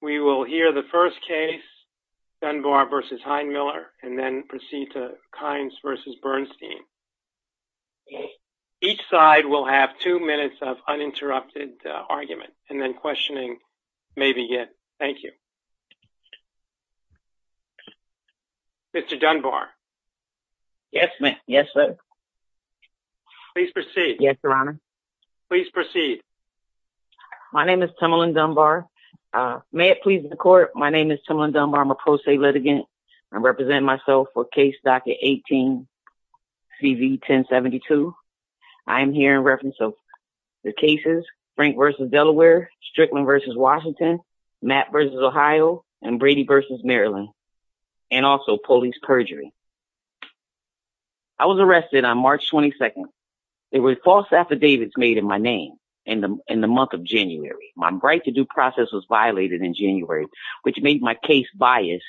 We will hear the first case, Dunbar v. Heinemiller and then proceed to Kynes v. Bernstein. Each side will have two minutes of uninterrupted argument and then questioning may begin. Thank you. Mr. Dunbar. Yes, ma'am. Yes, sir. Please proceed. Yes, Your Honor. Please proceed. My name is Timalyn Dunbar. May it please the court, my name is Timalyn Dunbar. I'm a pro se litigant. I represent myself for case docket 18, CV 1072. I am here in reference of the cases Frank v. Delaware, Strickland v. Washington, Matt v. Ohio, and Brady v. Maryland, and also police perjury. I was arrested on March 22nd. There were false affidavits made in my name in the month of January. My right-to-do process was violated in January, which made my case biased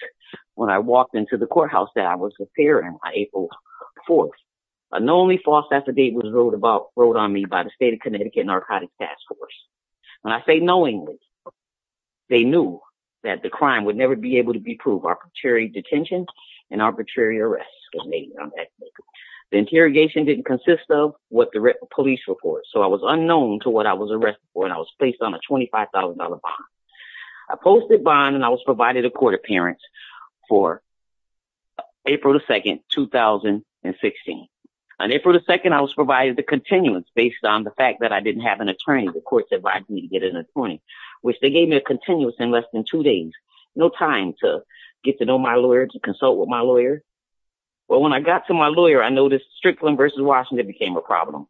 when I walked into the courthouse that I was appearing on April 4th. A known false affidavit was wrote on me by the State of Connecticut Narcotics Task Force. When I say knowingly, they knew that the crime would never be able to be proved. Arbitrary detention and arbitrary arrests were made. The interrogation didn't consist of what the police report, so I was unknown to what I was arrested for, and I was placed on a $25,000 bond. I posted bond and I was provided a court appearance for April 2nd, 2016. On April 2nd, I was provided the continuance based on the fact that I didn't have an attorney. The courts advised me to get an attorney, which they gave me a continuance in less than two days. No time to get to know my lawyer, to consult with my lawyer. Well, when I got to my lawyer, I noticed Strickland v. Washington became a problem.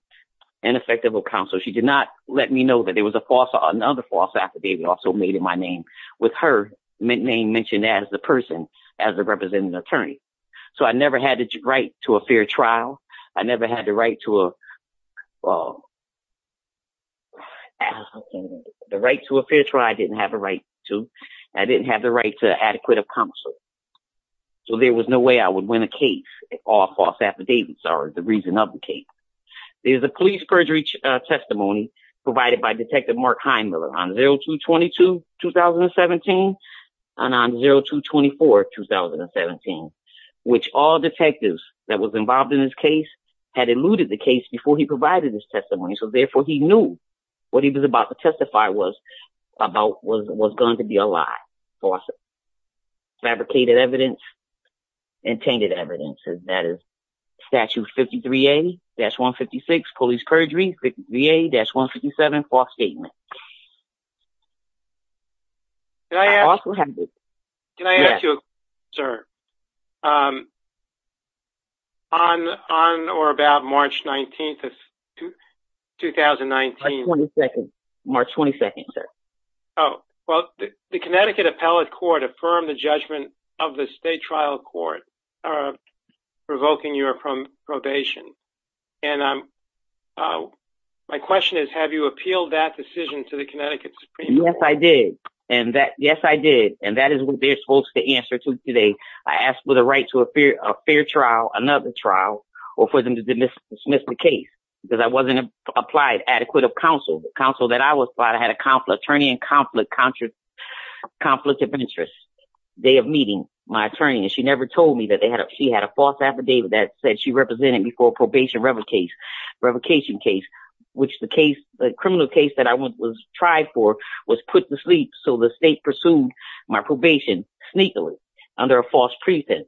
Ineffective of counsel. She did not let me know that there was a false or another false affidavit also made in my name with her name mentioned as the person as a representative attorney. So I never had the right to a fair trial. I never had the right to a fair trial. I didn't have a right to. I didn't have the right to adequate of counsel. So there was no way I would win a case if all false affidavits are the reason of the case. There's a police perjury testimony provided by Detective Mark Heimler on 02-22-2017 and on 02-24-2017, which all detectives that was involved in this case had eluded the case before he provided this testimony. So therefore he knew what he was about to testify was about was going to be a lie. Fabricated evidence, untainted evidence, and that is statute 53A-156, police perjury, 53A-157, false statement. Can I ask you, sir, on or about March 19th of 2019? March 22nd, sir. Oh, well, the Connecticut Appellate Court affirmed the judgment of the state trial court provoking your probation. And my question is have you appealed that decision to the Connecticut Supreme Court? Yes, I did. And that, yes, I did. And that is what they're supposed to answer to today. I asked for the right to a fair trial, another trial, or for them to dismiss the case because I wasn't applied adequate of an attorney in conflict of interest. Day of meeting, my attorney, and she never told me that she had a false affidavit that said she represented me for a probation revocation case, which the criminal case that I was tried for was put to sleep. So the state pursued my probation sneakily under a false pretense.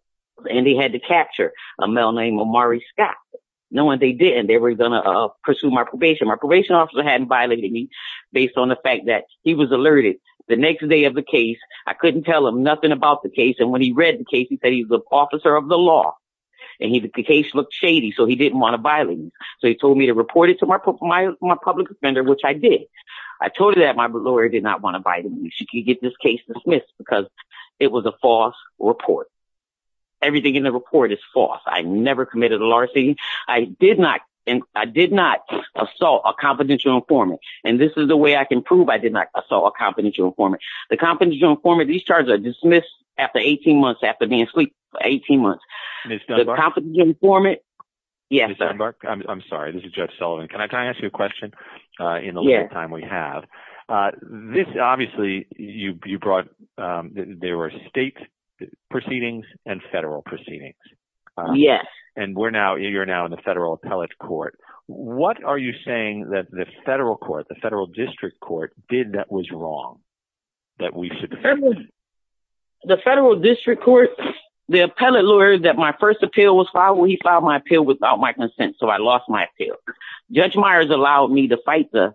And they had to capture a male named Omari Scott. Knowing they didn't, they were going to pursue my probation. My probation officer hadn't he was alerted the next day of the case. I couldn't tell him nothing about the case. And when he read the case, he said he's the officer of the law. And he, the case looked shady. So he didn't want to violate. So he told me to report it to my public defender, which I did. I told her that my lawyer did not want to bite me. She could get this case dismissed because it was a false report. Everything in the report is false. I never committed a larceny. I did not assault a confidential informant. The confidential informant, these charges are dismissed after 18 months after being asleep for 18 months. The confidential informant, yes. Ms. Dunbar, I'm sorry, this is Judge Sullivan. Can I ask you a question in the little time we have? This, obviously, you brought, there were state proceedings and federal proceedings. Yes. And we're now, you're now in the federal appellate court. What are you saying that the federal court, the federal district court did that was wrong, that we should- The federal district court, the appellate lawyer that my first appeal was filed, he filed my appeal without my consent. So I lost my appeal. Judge Myers allowed me to fight the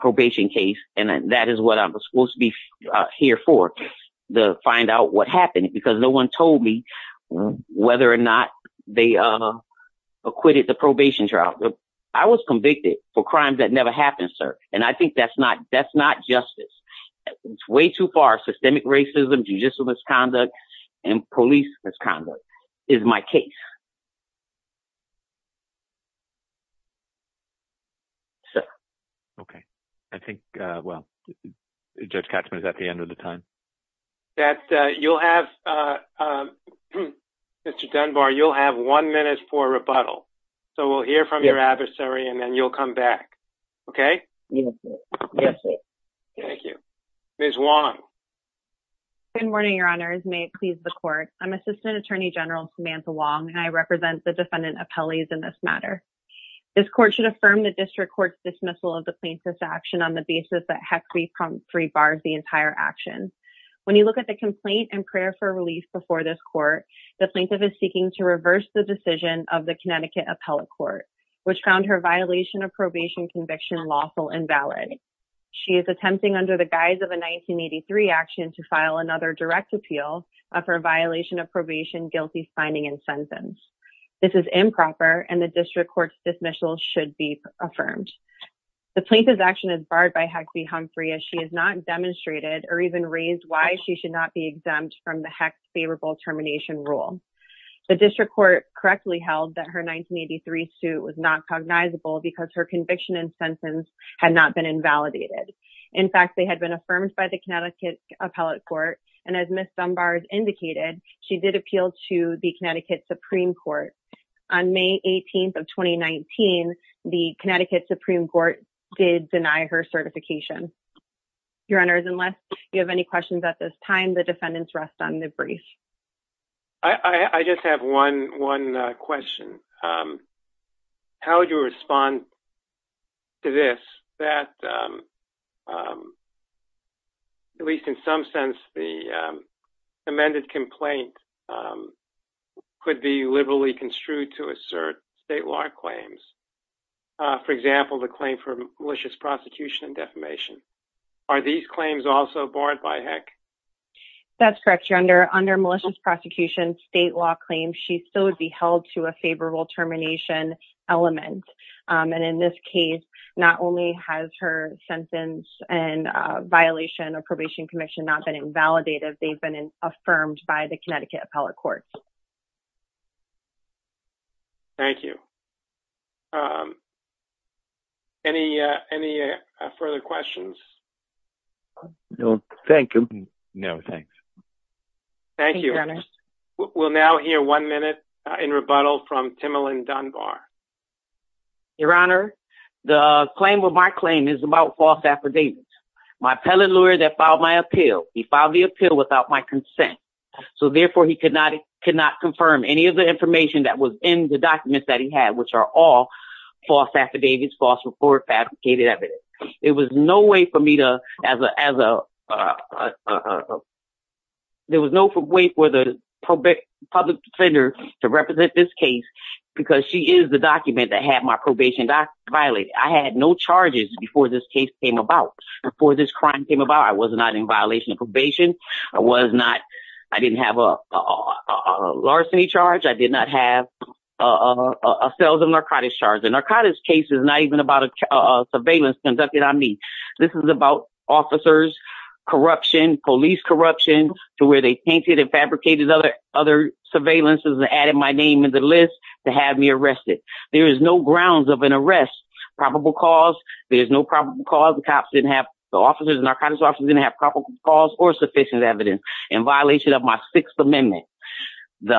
probation case. And that is what I was supposed to be here for, to find out what happened because no one told me whether or not they acquitted the probation trial. I was convicted for that. That's not justice. It's way too far. Systemic racism, judicial misconduct, and police misconduct is my case. Sir. Okay. I think, well, Judge Katzman is at the end of the time. That, you'll have, Mr. Dunbar, you'll have one minute for rebuttal. So we'll hear from your back. Okay? Thank you. Ms. Wong. Good morning, Your Honors. May it please the court. I'm Assistant Attorney General Samantha Wong, and I represent the defendant appellees in this matter. This court should affirm the district court's dismissal of the plaintiff's action on the basis that HEC 3 bars the entire action. When you look at the complaint and prayer for relief before this court, the plaintiff is seeking to reverse the decision of the Connecticut Appellate Court, which found her violation of probation conviction lawful and valid. She is attempting under the guise of a 1983 action to file another direct appeal of her violation of probation, guilty signing, and sentence. This is improper, and the district court's dismissal should be affirmed. The plaintiff's action is barred by HEC 3 Humphrey as she has not demonstrated or even raised why she should not be exempt from the HEC favorable termination rule. The district court correctly held that her 1983 suit was not cognizable because her conviction and sentence had not been invalidated. In fact, they had been affirmed by the Connecticut Appellate Court, and as Miss Dunbar's indicated, she did appeal to the Connecticut Supreme Court on May 18th of 2019. The Connecticut Supreme Court did deny her certification. Your honors, unless you have any questions at this time, the I just have one one question. How would you respond to this that, at least in some sense, the amended complaint could be liberally construed to assert state law claims? For example, the claim for malicious prosecution and defamation. Are malicious prosecution state law claims she still would be held to a favorable termination element? And in this case, not only has her sentence and violation of probation conviction not been invalidated, they've been affirmed by the Connecticut Appellate Court. Thank you. Any further questions? No, thank you. No, thanks. Thank you. We'll now hear one minute in rebuttal from Timalyn Dunbar. Your honor, the claim of my claim is about false affidavits. My appellate lawyer that filed my appeal, he filed the appeal without my consent, so therefore he could not confirm any of the information that was in the documents that he had, which are all false affidavits, false reports, fabricated evidence. There was no way for me to, as a there was no way for the public defender to represent this case because she is the document that had my probation document violated. I had no charges before this case came about, before this crime came about. I was not in violation of probation. I was not, I didn't have a larceny charge. I did not have a sales and narcotics charge. The narcotics case is not even about a surveillance conducted on me. This is about officers, corruption, police corruption, to where they painted and fabricated other other surveillance and added my name in the list to have me arrested. There is no grounds of an arrest, probable cause, there's no probable cause. The cops didn't have, the officers, the narcotics officers didn't have probable cause or sufficient evidence in violation of my Sixth Amendment. The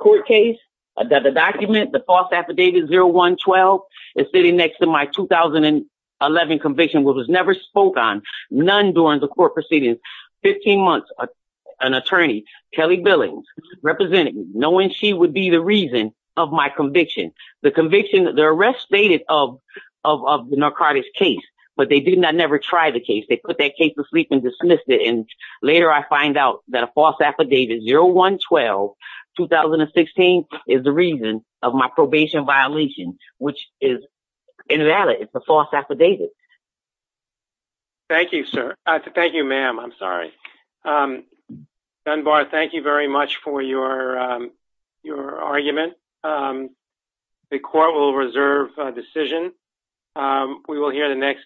court case, the document, the false affidavit 0112, is sitting next to my 2011 conviction, which was never spoke on, none during the court proceedings. Fifteen months, an attorney, Kelly Billings, represented me, knowing she would be the reason of my conviction. The conviction, the arrest stated of the narcotics case, but they did not never try the case. They put that case to sleep and dismissed it, and later I find out that a false affidavit 0112, 2016, is the reason of my probation violation, which is invalid. It's a false affidavit. Thank you, sir. Thank you, ma'am. I'm sorry. Dunbar, thank you very much for your argument. The court will reserve a decision. We will hear the next...